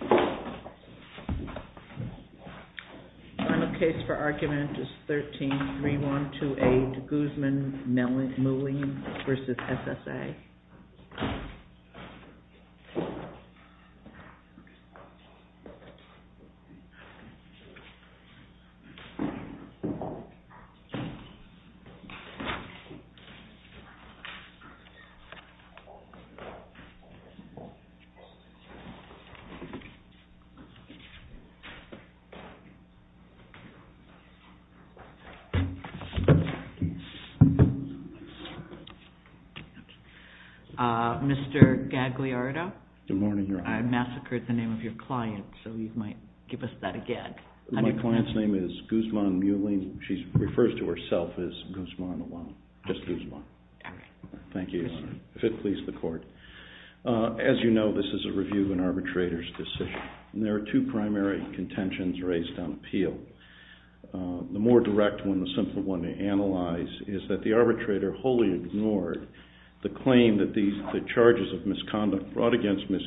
The final case for argument is 13-312A, Guzman-Muelling v. SSA Mr. Gagliardo, I massacred the name of your client, so you might give us that again. My client's name is Guzman-Muelling. She refers to herself as Guzman alone, just Guzman. As you know, this is a review of an arbitrator's decision, and there are two primary contentions raised on appeal. The more direct one, the simpler one to analyze, is that the arbitrator wholly ignored the claim that the charges of misconduct brought against Ms.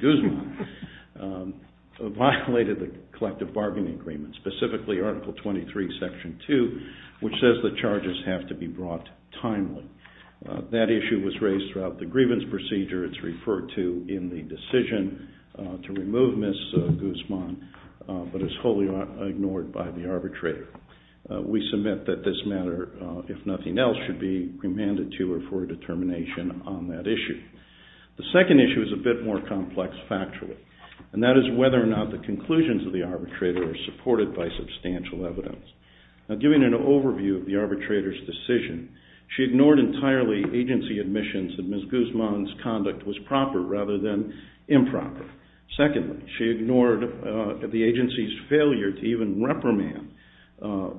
Guzman violated the collective bargaining agreement, specifically Article 23, Section 2, which says that charges have to be brought timely. That issue was raised throughout the grievance procedure. It's referred to in the decision to remove Ms. Guzman, but it's wholly ignored by the arbitrator. We submit that this matter, if nothing else, should be remanded to her for a determination on that issue. The second issue is a bit more complex factually, and that is whether or not the conclusions of the arbitrator are supported by substantial evidence. Now, giving an overview of the arbitrator's decision, she ignored entirely agency admissions that Ms. Guzman's conduct was proper rather than improper. Secondly, she ignored the agency's failure to even reprimand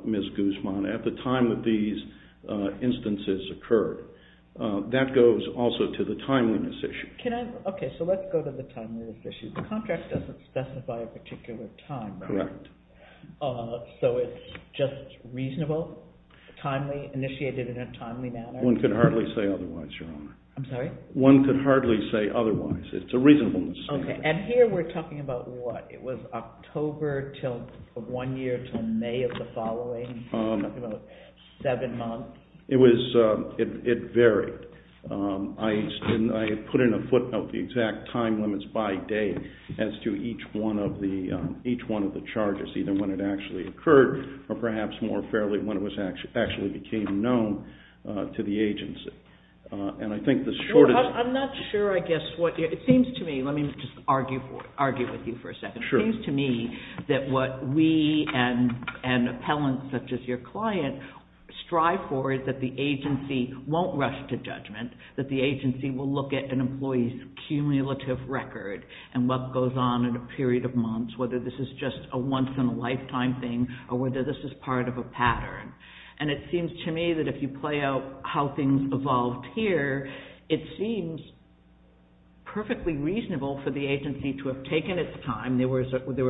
Ms. Guzman at the time that these instances occurred. That goes also to the timeliness issue. Okay, so let's go to the timeliness issue. The contract doesn't specify a particular time, correct? Correct. So it's just reasonable, timely, initiated in a timely manner? One could hardly say otherwise, Your Honor. I'm sorry? One could hardly say otherwise. It's a reasonableness issue. Okay, and here we're talking about what? It was October, one year, until May of the following seven months? It varied. I put in a footnote the exact time limits by day as to each one of the charges, either when it actually occurred or perhaps more fairly when it actually became known to the agency. I'm not sure, I guess. It seems to me, let me just argue with you for a second. It seems to me that what we and appellants such as your client strive for is that the agency won't rush to judgment, that the agency will look at an employee's cumulative record and what goes on in a period of months, whether this is just a once-in-a-lifetime thing or whether this is part of a pattern. And it seems to me that if you play out how things evolved here, it seems perfectly reasonable for the agency to have taken its time. There were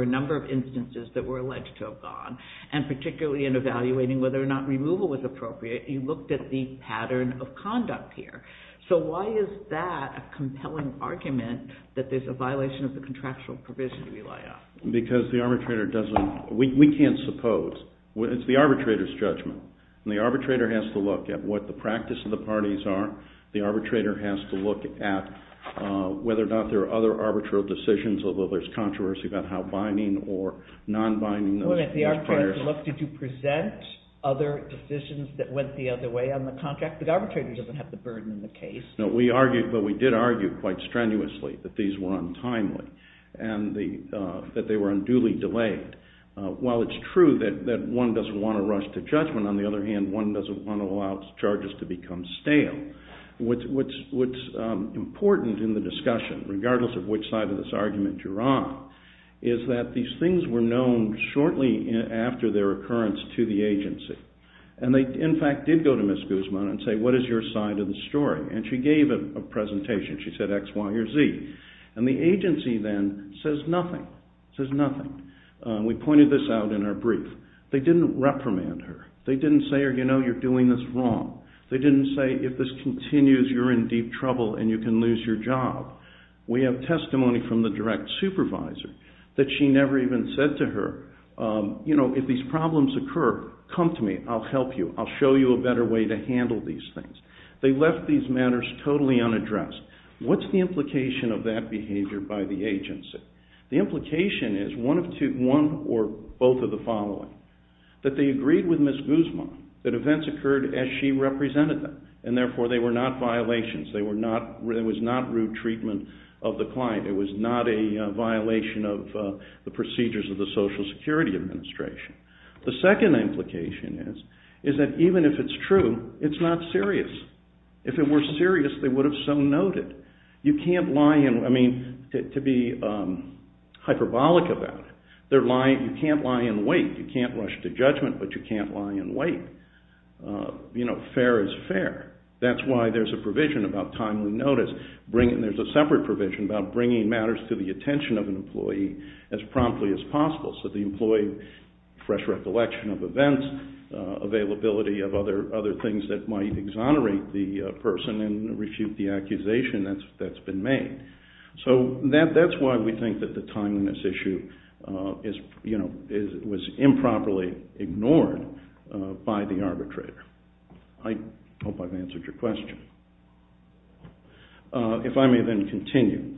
a number of instances that were alleged to have gone, and particularly in evaluating whether or not removal was appropriate, you looked at the pattern of conduct here. So why is that a compelling argument that there's a violation of the contractual provision to rely on? Because the arbitrator doesn't, we can't suppose. It's the arbitrator's judgment. And the arbitrator has to look at what the practice of the parties are. The arbitrator has to look at whether or not there are other arbitral decisions, although there's controversy about how binding or non-binding. Well, if the arbitrator looked, did you present other decisions that went the other way on the contract? The arbitrator doesn't have the burden in the case. No, we argued, but we did argue quite strenuously that these were untimely and that they were unduly delayed. While it's true that one doesn't want to rush to judgment, on the other hand, one doesn't want to allow charges to become stale. What's important in the discussion, regardless of which side of this argument you're on, is that these things were known shortly after their occurrence to the agency. And they, in fact, did go to Ms. Guzman and say, what is your side of the story? And she gave a presentation. She said X, Y, or Z. And the agency then says nothing, says nothing. We pointed this out in our brief. They didn't reprimand her. They didn't say, you know, you're doing this wrong. They didn't say, if this continues, you're in deep trouble and you can lose your job. We have testimony from the direct supervisor that she never even said to her, you know, if these problems occur, come to me, I'll help you, I'll show you a better way to handle these things. They left these matters totally unaddressed. What's the implication of that behavior by the agency? The implication is one or both of the following. That they agreed with Ms. Guzman that events occurred as she represented them, and therefore they were not violations. It was not rude treatment of the client. It was not a violation of the procedures of the Social Security Administration. The second implication is that even if it's true, it's not serious. If it were serious, they would have so noted. You can't lie and, I mean, to be hyperbolic about it, you can't lie in wait. You can't rush to judgment, but you can't lie in wait. You know, fair is fair. That's why there's a provision about timely notice. There's a separate provision about bringing matters to the attention of an employee as promptly as possible so the employee fresh recollection of events, availability of other things that might exonerate the person and refute the accusation that's been made. So that's why we think that the timeliness issue was improperly ignored by the arbitrator. I hope I've answered your question. If I may then continue.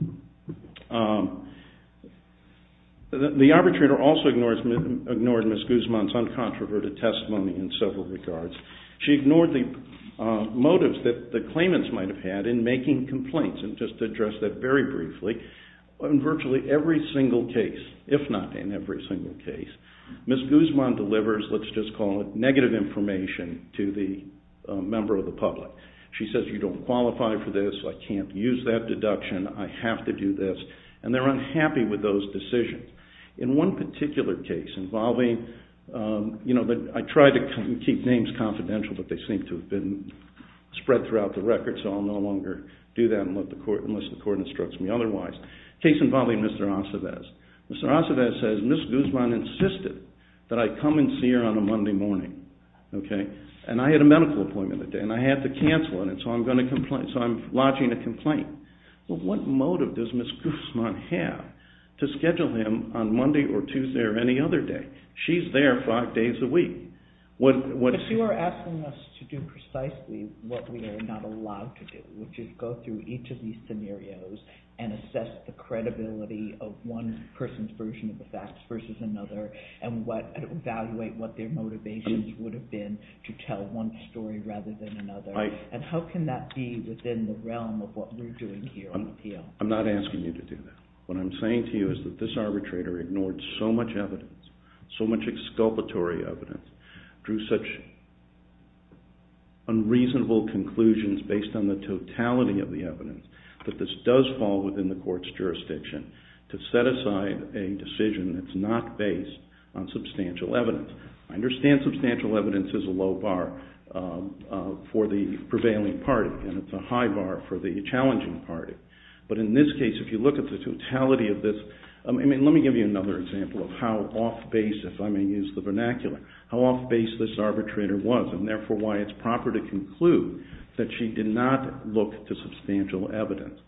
The arbitrator also ignored Ms. Guzman's uncontroverted testimony in several regards. She ignored the motives that the claimants might have had in making complaints, and just to address that very briefly, in virtually every single case, if not in every single case, Ms. Guzman delivers, let's just call it negative information, to the member of the public. She says, you don't qualify for this. I can't use that deduction. I have to do this. And they're unhappy with those decisions. In one particular case involving, you know, I try to keep names confidential, but they seem to have been spread throughout the record, so I'll no longer do that unless the court instructs me otherwise. A case involving Mr. Aceves. Mr. Aceves says, Ms. Guzman insisted that I come and see her on a Monday morning. And I had a medical appointment that day, and I had to cancel it, and so I'm lodging a complaint. Well, what motive does Ms. Guzman have to schedule him on Monday or Tuesday or any other day? She's there five days a week. But you are asking us to do precisely what we are not allowed to do, which is go through each of these scenarios and assess the credibility of one person's version of the facts versus another, and evaluate what their motivations would have been to tell one story rather than another, and how can that be within the realm of what we're doing here on the appeal? I'm not asking you to do that. What I'm saying to you is that this arbitrator ignored so much evidence, so much exculpatory evidence, drew such unreasonable conclusions based on the totality of the evidence that this does fall within the court's jurisdiction to set aside a decision that's not based on substantial evidence. I understand substantial evidence is a low bar for the prevailing party, and it's a high bar for the challenging party. But in this case, if you look at the totality of this, let me give you another example of how off-base, if I may use the vernacular, how off-base this arbitrator was, and therefore why it's proper to conclude that she did not look to substantial evidence.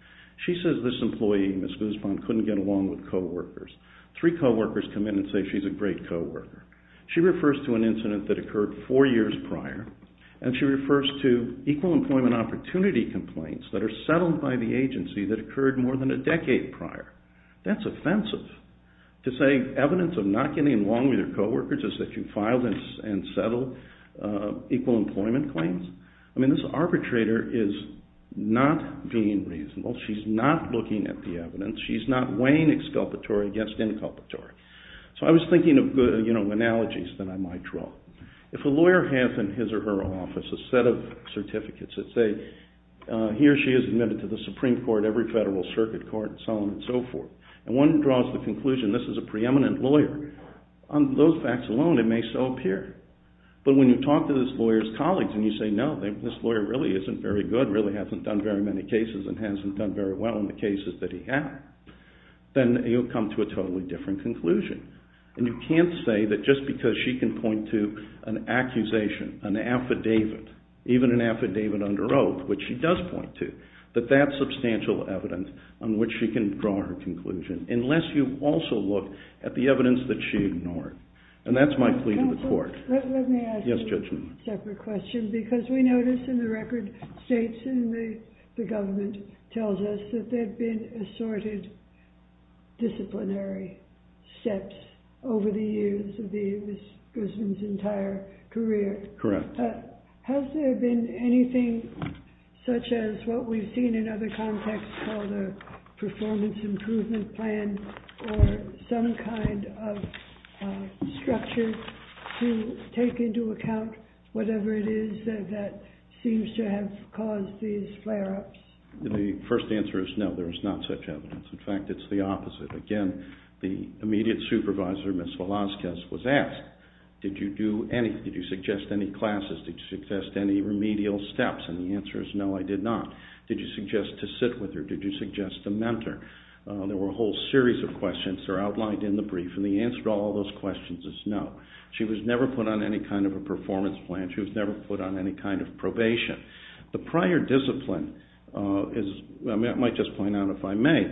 She says this employee, Ms. Guzman, couldn't get along with co-workers. Three co-workers come in and say she's a great co-worker. She refers to an incident that occurred four years prior, and she refers to equal employment opportunity complaints that are settled by the agency that occurred more than a decade prior. That's offensive. To say evidence of not getting along with your co-workers is that you filed and settled equal employment claims? I mean, this arbitrator is not being reasonable. She's not looking at the evidence. She's not weighing exculpatory against inculpatory. So I was thinking of analogies that I might draw. If a lawyer has in his or her office a set of certificates that say he or she is admitted to the Supreme Court, every federal circuit court, and so on and so forth, and one draws the conclusion this is a preeminent lawyer, on those facts alone it may so appear. But when you talk to this lawyer's colleagues and you say, no, this lawyer really isn't very good, really hasn't done very many cases and hasn't done very well in the cases that he had, then you'll come to a totally different conclusion. And you can't say that just because she can point to an accusation, an affidavit, even an affidavit under oath, which she does point to, that that's substantial evidence on which she can draw her conclusion, unless you also look at the evidence that she ignored. And that's my plea to the court. Let me ask a separate question, because we notice in the record states and the government tells us that there have been assorted disciplinary steps over the years of Ms. Grissom's entire career. Correct. Has there been anything such as what we've seen in other contexts called a performance improvement plan or some kind of structure to take into account whatever it is that seems to have caused these flare-ups? The first answer is no, there is not such evidence. In fact, it's the opposite. Again, the immediate supervisor, Ms. Velazquez, was asked, did you suggest any classes? Did you suggest any remedial steps? And the answer is no, I did not. Did you suggest to sit with her? Did you suggest to mentor? There were a whole series of questions that are outlined in the brief, and the answer to all those questions is no. She was never put on any kind of probation. The prior discipline, I might just point out if I may,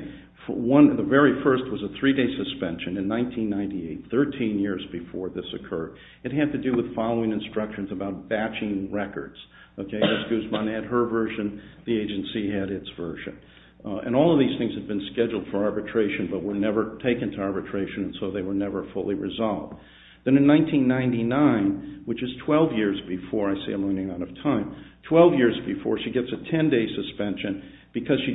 the very first was a three-day suspension in 1998, 13 years before this occurred. It had to do with following instructions about batching records. Ms. Guzman had her version. The agency had its version. And all of these things had been scheduled for arbitration but were never taken to arbitration, and so they were never fully resolved. Then in 1999, which is 12 years before, I see I'm running out of time, 12 years before, she gets a 10-day suspension because she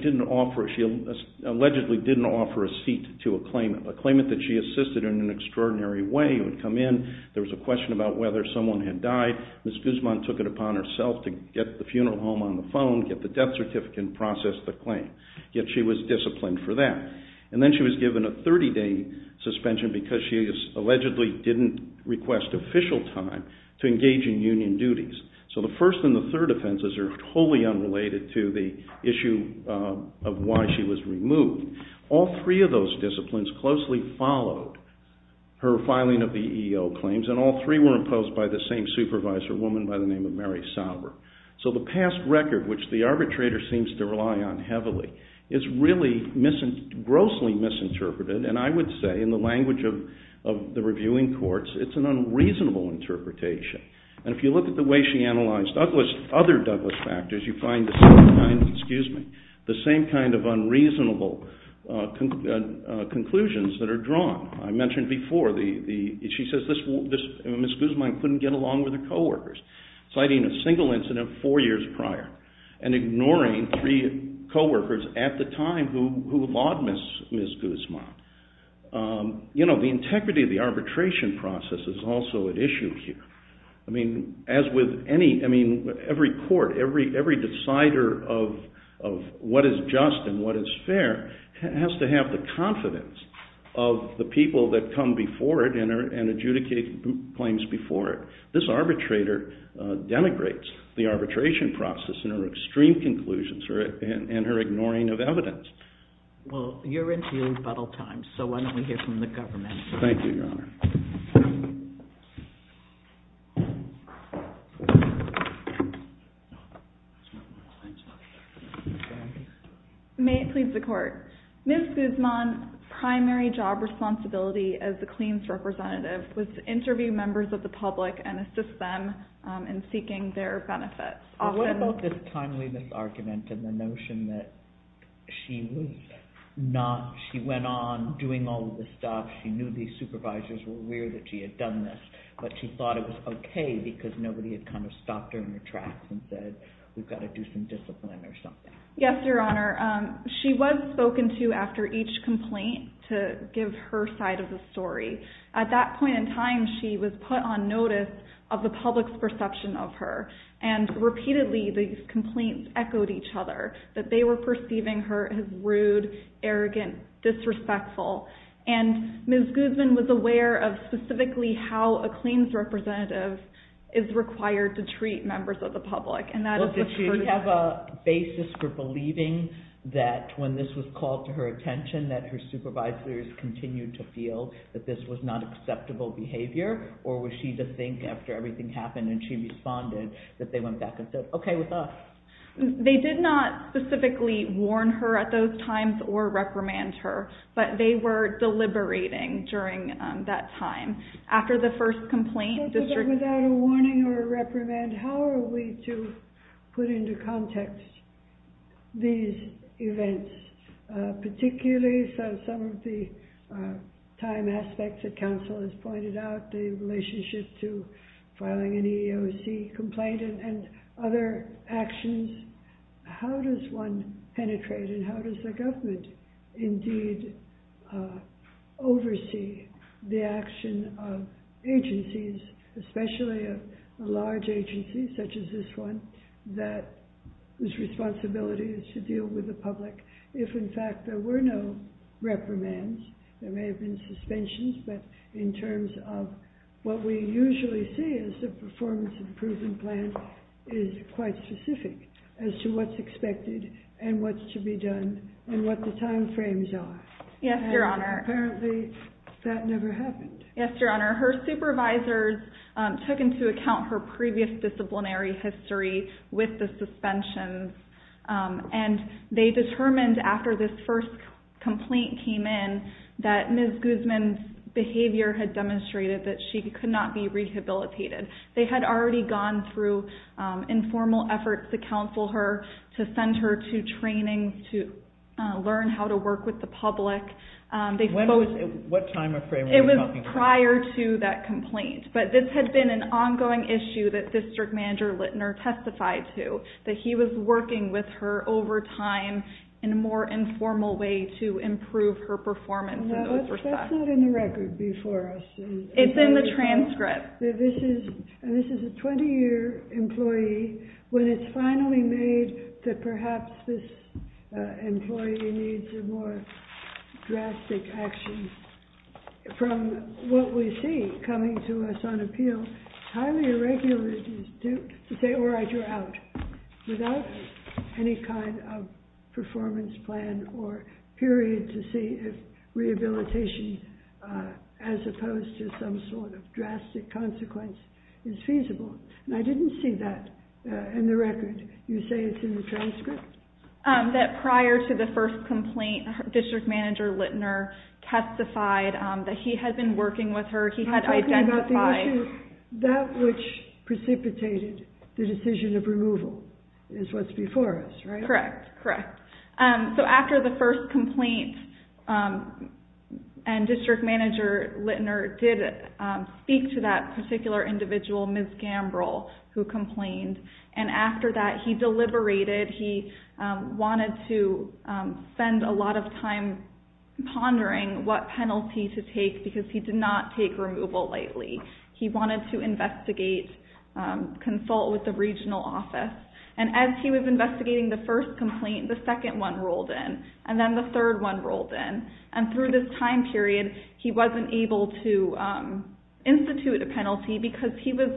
allegedly didn't offer a seat to a claimant. A claimant that she assisted in an extraordinary way would come in. There was a question about whether someone had died. Ms. Guzman took it upon herself to get the funeral home on the phone, get the death certificate, and process the claim. Yet she was disciplined for that. And then she was given a 30-day suspension because she allegedly didn't request official time to engage in union duties. So the first and the third offenses are totally unrelated to the issue of why she was removed. All three of those disciplines closely followed her filing of the EEO claims, and all three were imposed by the same supervisor, a woman by the name of Mary Sauber. So the past record, which the arbitrator seems to rely on heavily, is really grossly misinterpreted, and I would say in the language of the reviewing courts, it's an unreasonable interpretation. And if you look at the way she analyzed other Douglas factors, you find the same kind of unreasonable conclusions that are drawn. I mentioned before, she says Ms. Guzman couldn't get along with her coworkers, citing a single incident four years prior and ignoring three coworkers at the time who laud Ms. Guzman. You know, the integrity of the arbitration process is also at issue here. I mean, as with any, I mean, every court, every decider of what is just and what is fair has to have the confidence of the people that come before it and adjudicate claims before it. This arbitrator denigrates the arbitration process in her extreme conclusions and her ignoring of evidence. Well, you're in field battle time, so why don't we hear from the government. Thank you, Your Honor. May it please the Court. Ms. Guzman's primary job responsibility as the claims representative was to interview members of the public and assist them in seeking their benefits. What about this timeliness argument and the notion that she was not, she went on doing all of this stuff, she knew these supervisors were aware that she had done this, but she thought it was okay because nobody had kind of stopped her in her tracks and said, we've got to do some discipline or something. Yes, Your Honor. She was spoken to after each complaint to give her side of the story. At that point in time, she was put on notice of the public's perception of her, and repeatedly these complaints echoed each other, that they were perceiving her as rude, arrogant, disrespectful, and Ms. Guzman was aware of specifically how a claims representative is required to treat members of the public. Did she have a basis for believing that when this was called to her attention that her supervisors continued to feel that this was not acceptable behavior, or was she to think after everything happened and she responded that they went back and said, okay, with us. They did not specifically warn her at those times or reprimand her, but they were deliberating during that time. After the first complaint, the district... So then without a warning or a reprimand, how are we to put into context these events, particularly some of the time aspects that counsel has pointed out, the relationship to filing an EEOC complaint and other actions? How does one penetrate and how does the government indeed oversee the action of agencies, especially a large agency such as this one, whose responsibility is to deal with the public? If in fact there were no reprimands, there may have been suspensions, but in terms of what we usually see is the performance improvement plan is quite specific as to what's expected and what's to be done and what the time frames are. Yes, Your Honor. Apparently that never happened. Yes, Your Honor. Her supervisors took into account her previous disciplinary history with the suspensions, and they determined after this first complaint came in that Ms. Guzman's behavior had demonstrated that she could not be rehabilitated. They had already gone through informal efforts to counsel her, to send her to training, to learn how to work with the public. What time or frame were you talking about? It was prior to that complaint, but this had been an ongoing issue that District Manager Littner testified to, that he was working with her over time in a more informal way to improve her performance. That's not in the record before us. It's in the transcript. This is a 20-year employee. When it's finally made that perhaps this employee needs more drastic action, from what we see coming to us on appeal, it's highly irregular to say, without any kind of performance plan or period to see if rehabilitation, as opposed to some sort of drastic consequence, is feasible. I didn't see that in the record. You say it's in the transcript? That prior to the first complaint, District Manager Littner testified that he had been working with her. I'm talking about the issue, that which precipitated the decision of removal is what's before us, right? Correct. After the first complaint, and District Manager Littner did speak to that particular individual, Ms. Gambrill, who complained. After that, he deliberated. He wanted to spend a lot of time pondering what penalty to take, because he did not take removal lightly. He wanted to investigate, consult with the regional office. As he was investigating the first complaint, the second one rolled in, and then the third one rolled in. Through this time period, he wasn't able to institute a penalty, because he was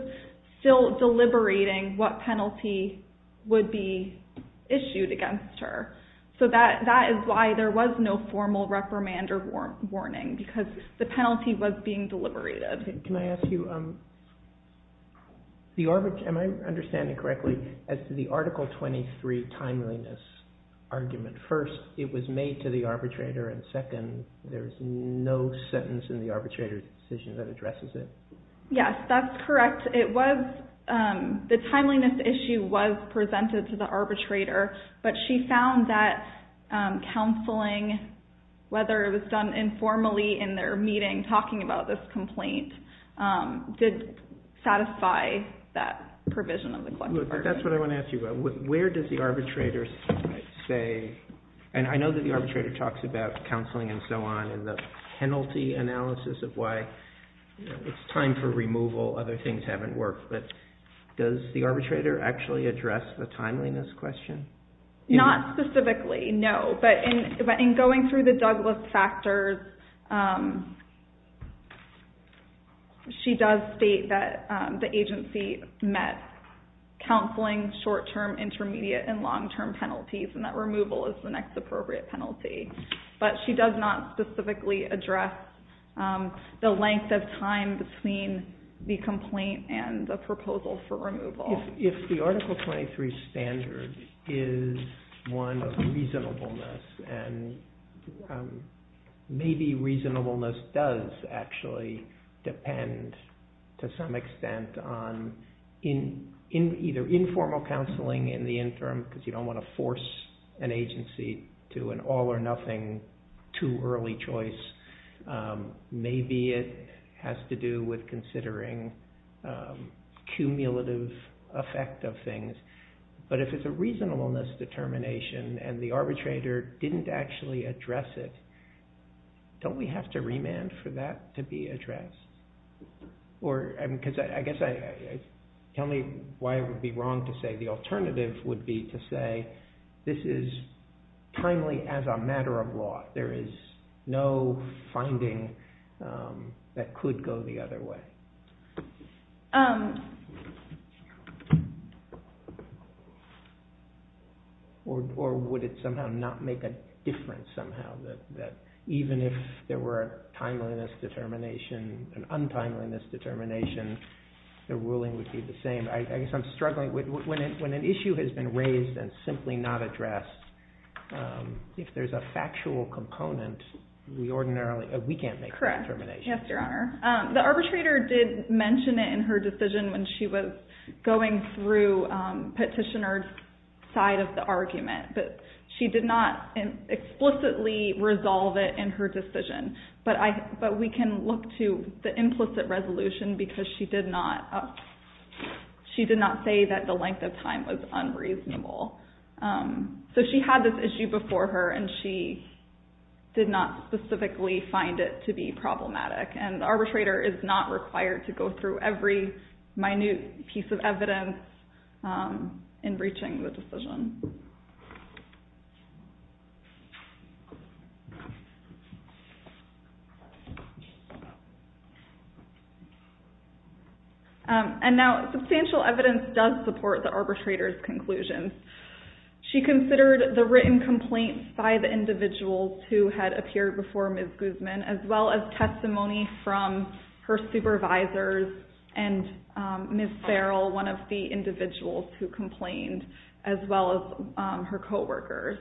still deliberating what penalty would be issued against her. That is why there was no formal reprimand or warning, because the penalty was being deliberated. Can I ask you, am I understanding correctly, as to the Article 23 timeliness argument? First, it was made to the arbitrator, and second, there is no sentence in the arbitrator's decision that addresses it. Yes, that's correct. The timeliness issue was presented to the arbitrator, but she found that counseling, whether it was done informally in their meeting, talking about this complaint, did satisfy that provision of the collection order. That's what I want to ask you about. Where does the arbitrator say, and I know that the arbitrator talks about counseling and so on, and the penalty analysis of why it's time for removal, other things haven't worked, but does the arbitrator actually address the timeliness question? Not specifically, no. But in going through the Douglass factors, she does state that the agency met counseling, short-term, intermediate, and long-term penalties, and that removal is the next appropriate penalty. But she does not specifically address the length of time between the complaint and the proposal for removal. If the Article 23 standard is one of reasonableness, and maybe reasonableness does actually depend, to some extent, on either informal counseling in the interim, because you don't want to force an agency to an all-or-nothing, too-early choice, maybe it has to do with considering cumulative effect of things. But if it's a reasonableness determination, and the arbitrator didn't actually address it, don't we have to remand for that to be addressed? I guess, tell me why it would be wrong to say, the alternative would be to say, this is timely as a matter of law. There is no finding that could go the other way. Or would it somehow not make a difference, somehow, that even if there were a timeliness determination, an untimeliness determination, the ruling would be the same? I guess I'm struggling. When an issue has been raised and simply not addressed, if there's a factual component, we can't make that determination. Yes, Your Honor. The arbitrator did mention it in her decision when she was going through petitioner's side of the argument, but she did not explicitly resolve it in her decision. But we can look to the implicit resolution, because she did not say that the length of time was unreasonable. So she had this issue before her, and she did not specifically find it to be problematic. And the arbitrator is not required to go through every minute piece of evidence in reaching the decision. And now, substantial evidence does support the arbitrator's conclusions. She considered the written complaints by the individuals who had appeared before Ms. Guzman, as well as testimony from her supervisors and Ms. Farrell, one of the individuals who complained, as well as her coworkers.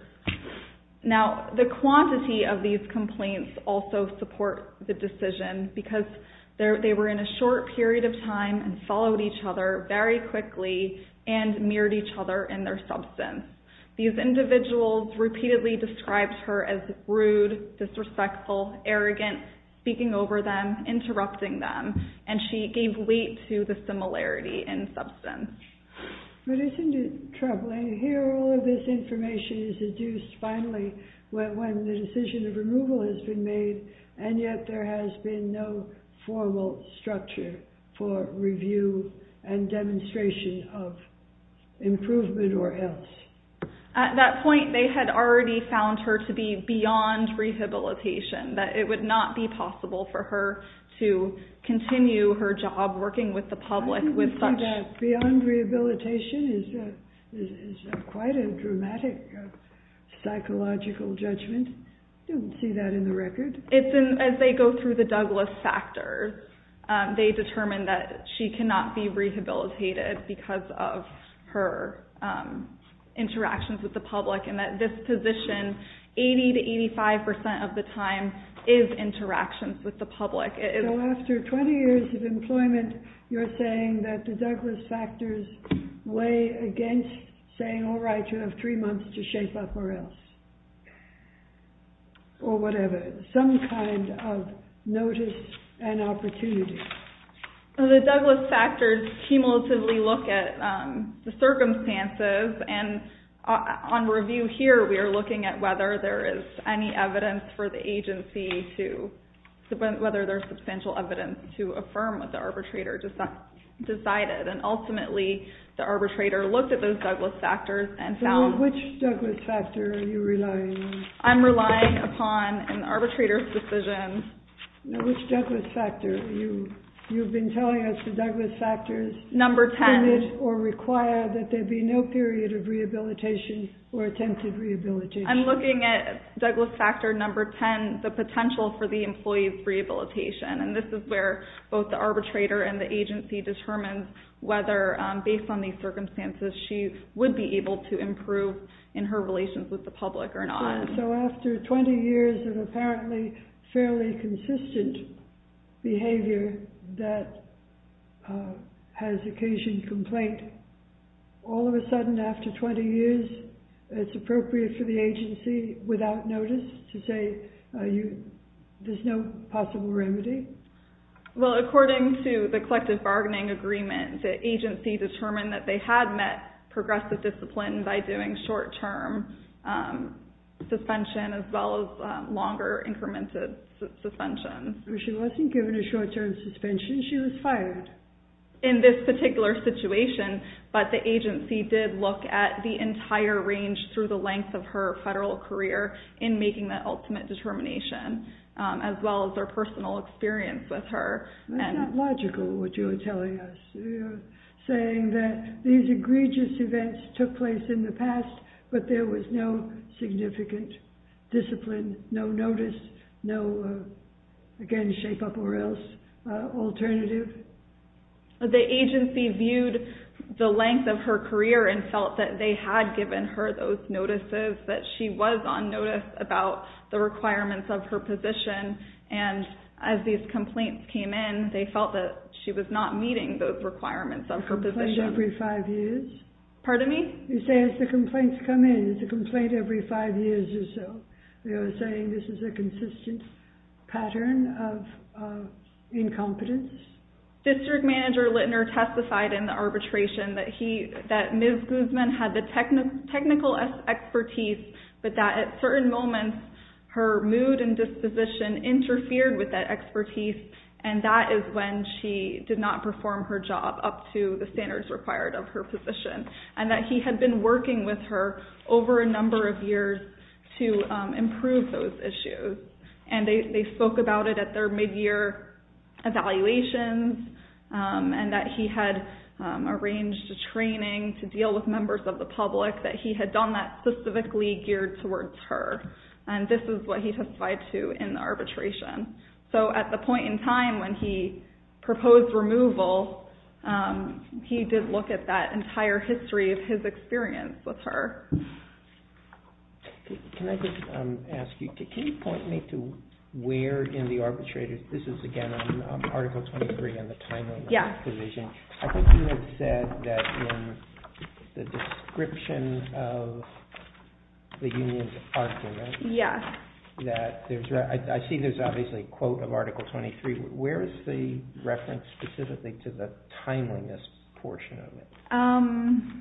Now, the quantity of these complaints also support the decision, because they were in a short period of time and followed each other very quickly and mirrored each other in their substance. These individuals repeatedly described her as rude, disrespectful, arrogant, speaking over them, interrupting them, and she gave weight to the similarity in substance. But isn't it troubling? Here, all of this information is deduced finally when the decision of removal has been made, and yet there has been no formal structure for review and demonstration of improvement or else. At that point, they had already found her to be beyond rehabilitation, that it would not be possible for her to continue her job working with the public with such... Beyond rehabilitation is quite a dramatic psychological judgment. I don't see that in the record. As they go through the Douglas factors, they determine that she cannot be rehabilitated because of her interactions with the public, and that this position, 80 to 85 percent of the time, is interactions with the public. So after 20 years of employment, you're saying that the Douglas factors weigh against saying, All right, you have three months to shape up or else. Or whatever. Some kind of notice and opportunity. The Douglas factors cumulatively look at the circumstances, and on review here, we are looking at whether there is any evidence for the agency to... Whether there's substantial evidence to affirm what the arbitrator decided. Ultimately, the arbitrator looked at those Douglas factors and found... Which Douglas factor are you relying on? I'm relying upon an arbitrator's decision. Which Douglas factor? You've been telling us the Douglas factors... Number 10. ...or require that there be no period of rehabilitation or attempted rehabilitation. I'm looking at Douglas factor number 10, the potential for the employee's rehabilitation. This is where both the arbitrator and the agency determine whether, based on these circumstances, she would be able to improve in her relations with the public or not. So after 20 years of apparently fairly consistent behavior that has occasioned complaint, all of a sudden after 20 years, it's appropriate for the agency, without notice, to say there's no possible remedy? Well, according to the collective bargaining agreement, the agency determined that they had met progressive discipline by doing short-term suspension as well as longer, incremented suspension. She wasn't given a short-term suspension. She was fired. In this particular situation, but the agency did look at the entire range through the length of her federal career in making that ultimate determination, as well as their personal experience with her. That's not logical, what you're telling us. You're saying that these egregious events took place in the past, but there was no significant discipline, no notice, no, again, shape-up-or-else alternative? The agency viewed the length of her career and felt that they had given her those notices, that she was on notice about the requirements of her position, and as these complaints came in, they felt that she was not meeting those requirements of her position. A complaint every five years? Pardon me? You say as the complaints come in, it's a complaint every five years or so. You're saying this is a consistent pattern of incompetence? District Manager Littner testified in the arbitration that Ms. Guzman had the technical expertise, but that at certain moments, her mood and disposition interfered with that expertise, and that is when she did not perform her job up to the standards required of her position, and that he had been working with her over a number of years to improve those issues, and they spoke about it at their mid-year evaluations, and that he had arranged a training to deal with members of the public, that he had done that specifically geared towards her, and this is what he testified to in the arbitration. So at the point in time when he proposed removal, he did look at that entire history of his experience with her. Can I just ask you, can you point me to where in the arbitration, this is again on Article 23 and the timeliness provision, I think you had said that in the description of the union's argument, that I see there's obviously a quote of Article 23, where is the reference specifically to the timeliness portion of it?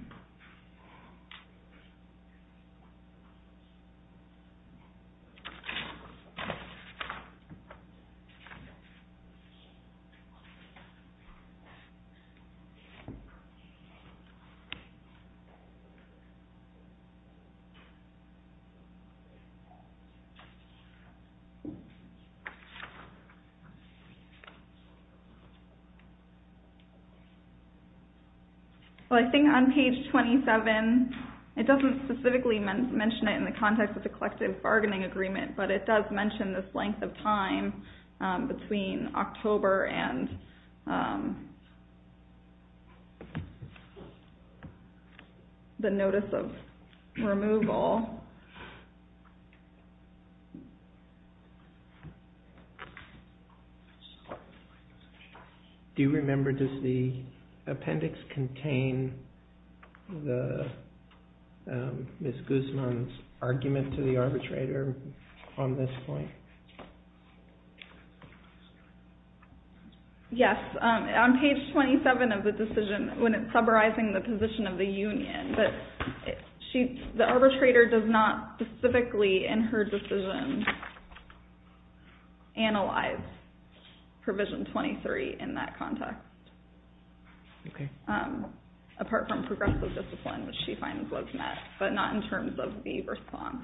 Well, I think on page 27, it doesn't specifically mention it in the context of the collective bargaining agreement, but it does mention this length of time between October and the notice of removal. Do you remember, does the appendix contain Ms. Guzman's argument to the arbitrator on this point? Yes. On page 27 of the decision, when it's summarizing the position of the union, the arbitrator does not specifically in her decision analyze provision 23 in that context. Okay. Apart from progressive discipline, which she finds was met, but not in terms of the response.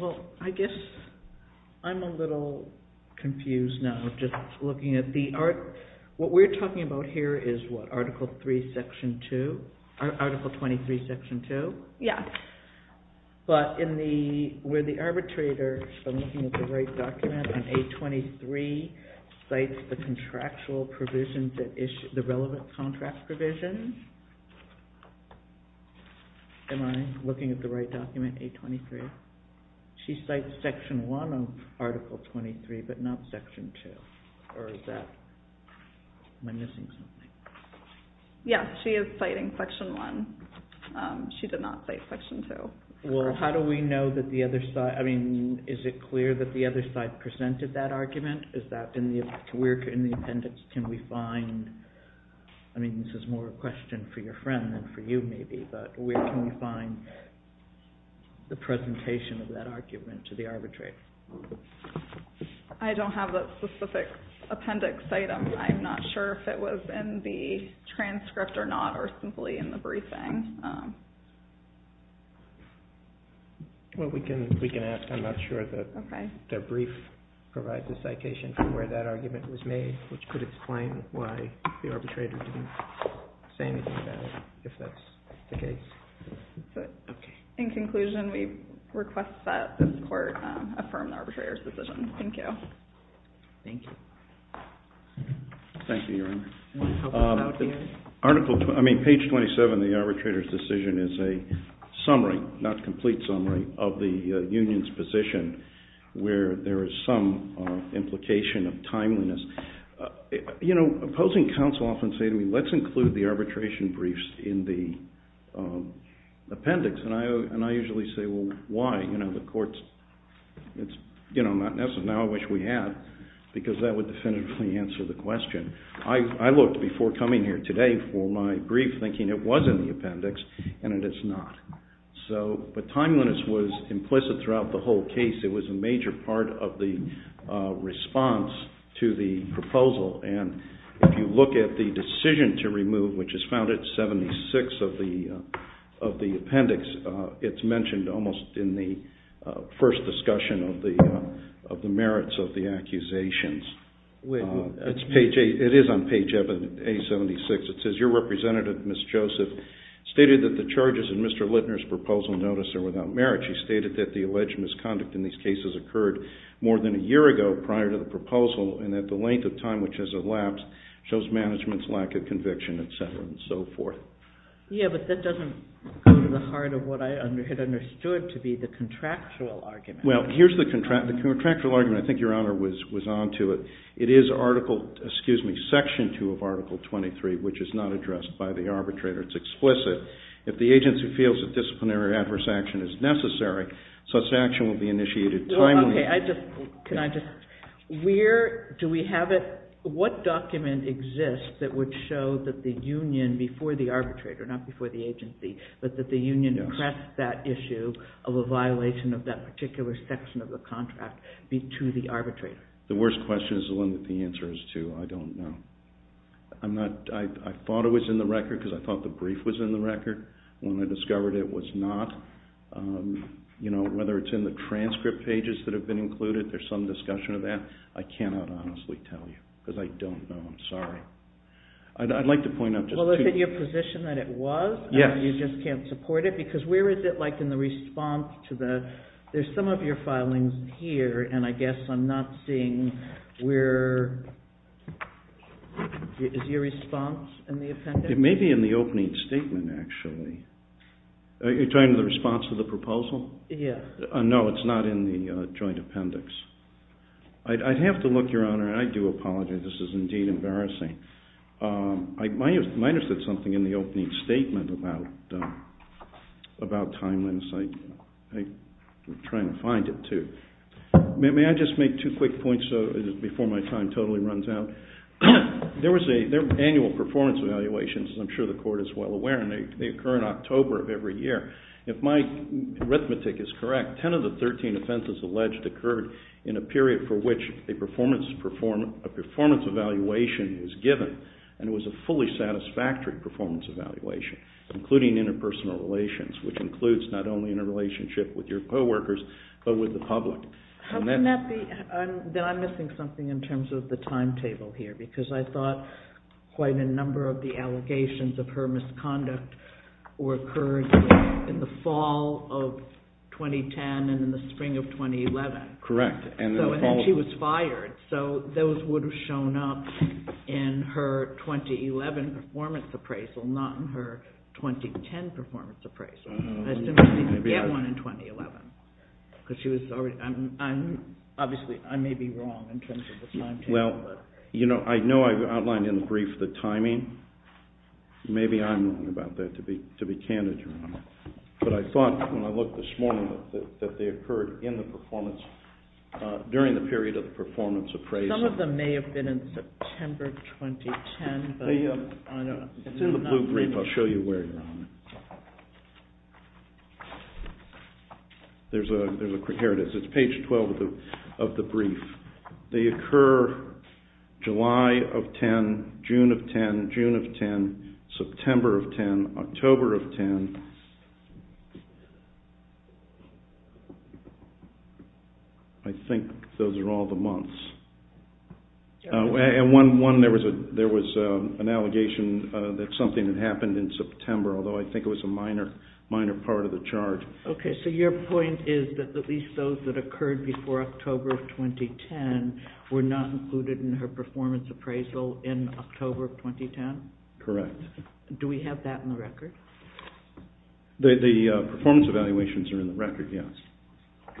Well, I guess I'm a little confused now, just looking at the, what we're talking about here is what, Article 23, Section 2? Yes. But where the arbitrator, if I'm looking at the right document, on page 23, cites the contractual provisions, the relevant contract provisions. Am I looking at the right document, page 23? She cites Section 1 of Article 23, but not Section 2. Or is that, am I missing something? Yes, she is citing Section 1. She did not cite Section 2. Well, how do we know that the other side, I mean, is it clear that the other side presented that argument? Is that, where in the appendix can we find, I mean, this is more a question for your friend than for you, maybe, but where can we find the presentation of that argument to the arbitrator? I don't have that specific appendix item. I'm not sure if it was in the transcript or not, or simply in the briefing. Well, we can ask. I'm not sure that the brief provides a citation for where that argument was made, which could explain why the arbitrator didn't say anything about it, if that's the case. In conclusion, we request that this Court affirm the arbitrator's decision. Thank you. Thank you. Thank you, Your Honor. Article, I mean, page 27, the arbitrator's decision is a summary, not complete summary, of the union's position where there is some implication of timeliness. You know, opposing counsel often say to me, let's include the arbitration briefs in the appendix, and I usually say, well, why? You know, the Court's, it's, you know, not necessary. Now I wish we had, because that would definitively answer the question. I looked before coming here today for my brief thinking it was in the appendix, and it is not. So, but timeliness was implicit throughout the whole case. It was a major part of the response to the proposal, and if you look at the decision to remove, which is found at 76 of the appendix, it's mentioned almost in the first discussion of the merits of the accusations. It's page, it is on page A76. It says your representative, Ms. Joseph, stated that the charges in Mr. Littner's proposal notice are without merit. She stated that the alleged misconduct in these cases occurred more than a year ago prior to the proposal, and that the length of time which has elapsed shows management's lack of conviction, et cetera, and so forth. Yeah, but that doesn't go to the heart of what I had understood to be the contractual argument. Well, here's the contractual argument. I think Your Honor was on to it. It is Article, excuse me, Section 2 of Article 23, which is not addressed by the arbitrator. It's explicit. If the agency feels that disciplinary or adverse action is necessary, such action will be initiated timely. Okay, I just, can I just, where do we have it, what document exists that would show that the union before the arbitrator, not before the agency, but that the union pressed that issue of a violation of that particular section of the contract be to the arbitrator? The worst question is the one that the answer is to. I don't know. I'm not, I thought it was in the record because I thought the brief was in the record. When I discovered it was not. You know, whether it's in the transcript pages that have been included, there's some discussion of that. I cannot honestly tell you because I don't know. I'm sorry. I'd like to point out just two. Well, is it your position that it was? Yes. You just can't support it because where is it like in the response to the, there's some of your filings here and I guess I'm not seeing where, is your response in the appendix? It may be in the opening statement actually. Are you talking to the response to the proposal? Yes. No, it's not in the joint appendix. I'd have to look, Your Honor, and I do apologize. This is indeed embarrassing. I might have said something in the opening statement about timelines. I'm trying to find it too. May I just make two quick points before my time totally runs out? There was an annual performance evaluation, as I'm sure the Court is well aware, and they occur in October of every year. If my arithmetic is correct, 10 of the 13 offenses alleged occurred in a period for which a performance evaluation is given and it was a fully satisfactory performance evaluation, including interpersonal relations, which includes not only in a relationship with your co-workers, but with the public. Then I'm missing something in terms of the timetable here because I thought quite a number of the allegations of her misconduct occurred in the fall of 2010 and in the spring of 2011. Correct. And then she was fired, so those would have shown up in her 2011 performance appraisal, not in her 2010 performance appraisal. I assume she didn't get one in 2011. Obviously, I may be wrong in terms of the timetable. I know I outlined in the brief the timing. Maybe I'm wrong about that, to be candid. But I thought when I looked this morning that they occurred during the period of the performance appraisal. Some of them may have been in September 2010. It's in the blue brief. I'll show you where you're on it. Here it is. It's page 12 of the brief. They occur July of 10, June of 10, June of 10, September of 10, October of 10. I think those are all the months. And one, there was an allegation that something had happened in September, although I think it was a minor part of the chart. Okay, so your point is that at least those that occurred before October of 2010 were not included in her performance appraisal in October of 2010? Correct. Do we have that in the record? The performance evaluations are in the record, yes.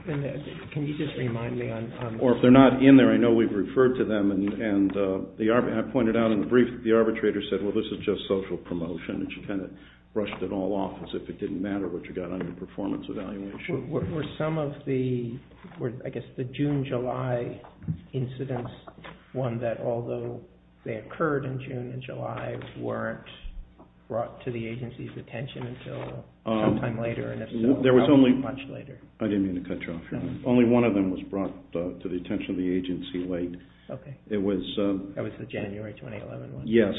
Can you just remind me on... Or if they're not in there, I know we've referred to them. And I pointed out in the brief that the arbitrator said, well, this is just social promotion. And she kind of brushed it all off as if it didn't matter what you got on your performance evaluation. Were some of the, I guess, the June-July incidents one that, although they occurred in June and July, weren't brought to the agency's attention until sometime later, and if so, how much later? I didn't mean to cut you off here. Only one of them was brought to the attention of the agency late. Okay. It was... That was the January 2011 one. Yes.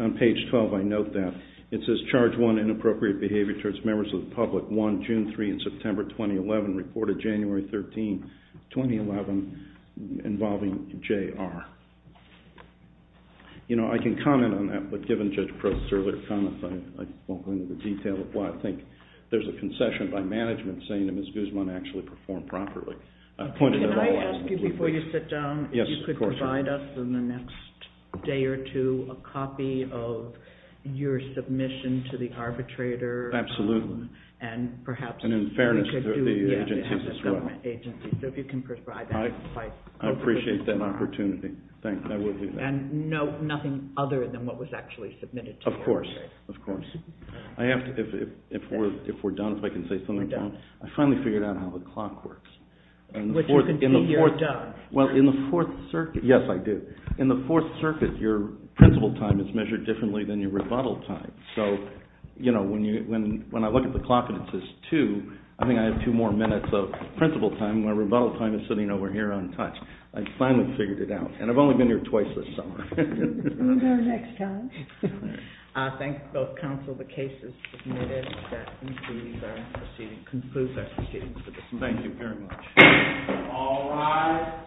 On page 12, I note that. It says, charge one, inappropriate behavior towards members of the public. One, June 3 and September 2011, reported January 13, 2011, involving J.R. You know, I can comment on that, but given Judge Prost's earlier comment, I won't go into the detail of why. I think there's a concession by management saying that Ms. Guzman actually performed properly. Can I ask you, before you sit down, if you could provide us in the next day or two a copy of your submission to the arbitrator? Absolutely. And perhaps... And in fairness to the agencies as well. So if you can provide that. I appreciate that opportunity. And nothing other than what was actually submitted to you. Of course, of course. I have to... If we're done, if I can say something, I finally figured out how the clock works. Which you can see here. Well, in the Fourth Circuit... Yes, I do. In the Fourth Circuit, your principle time is measured differently than your rebuttal time. So, you know, when I look at the clock and it says two, I think I have two more minutes of principle time when rebuttal time is sitting over here untouched. I finally figured it out. And I've only been here twice this summer. Can you go next time? I thank both counsel. The case is submitted. That concludes our proceedings for this morning. Thank you very much. All rise.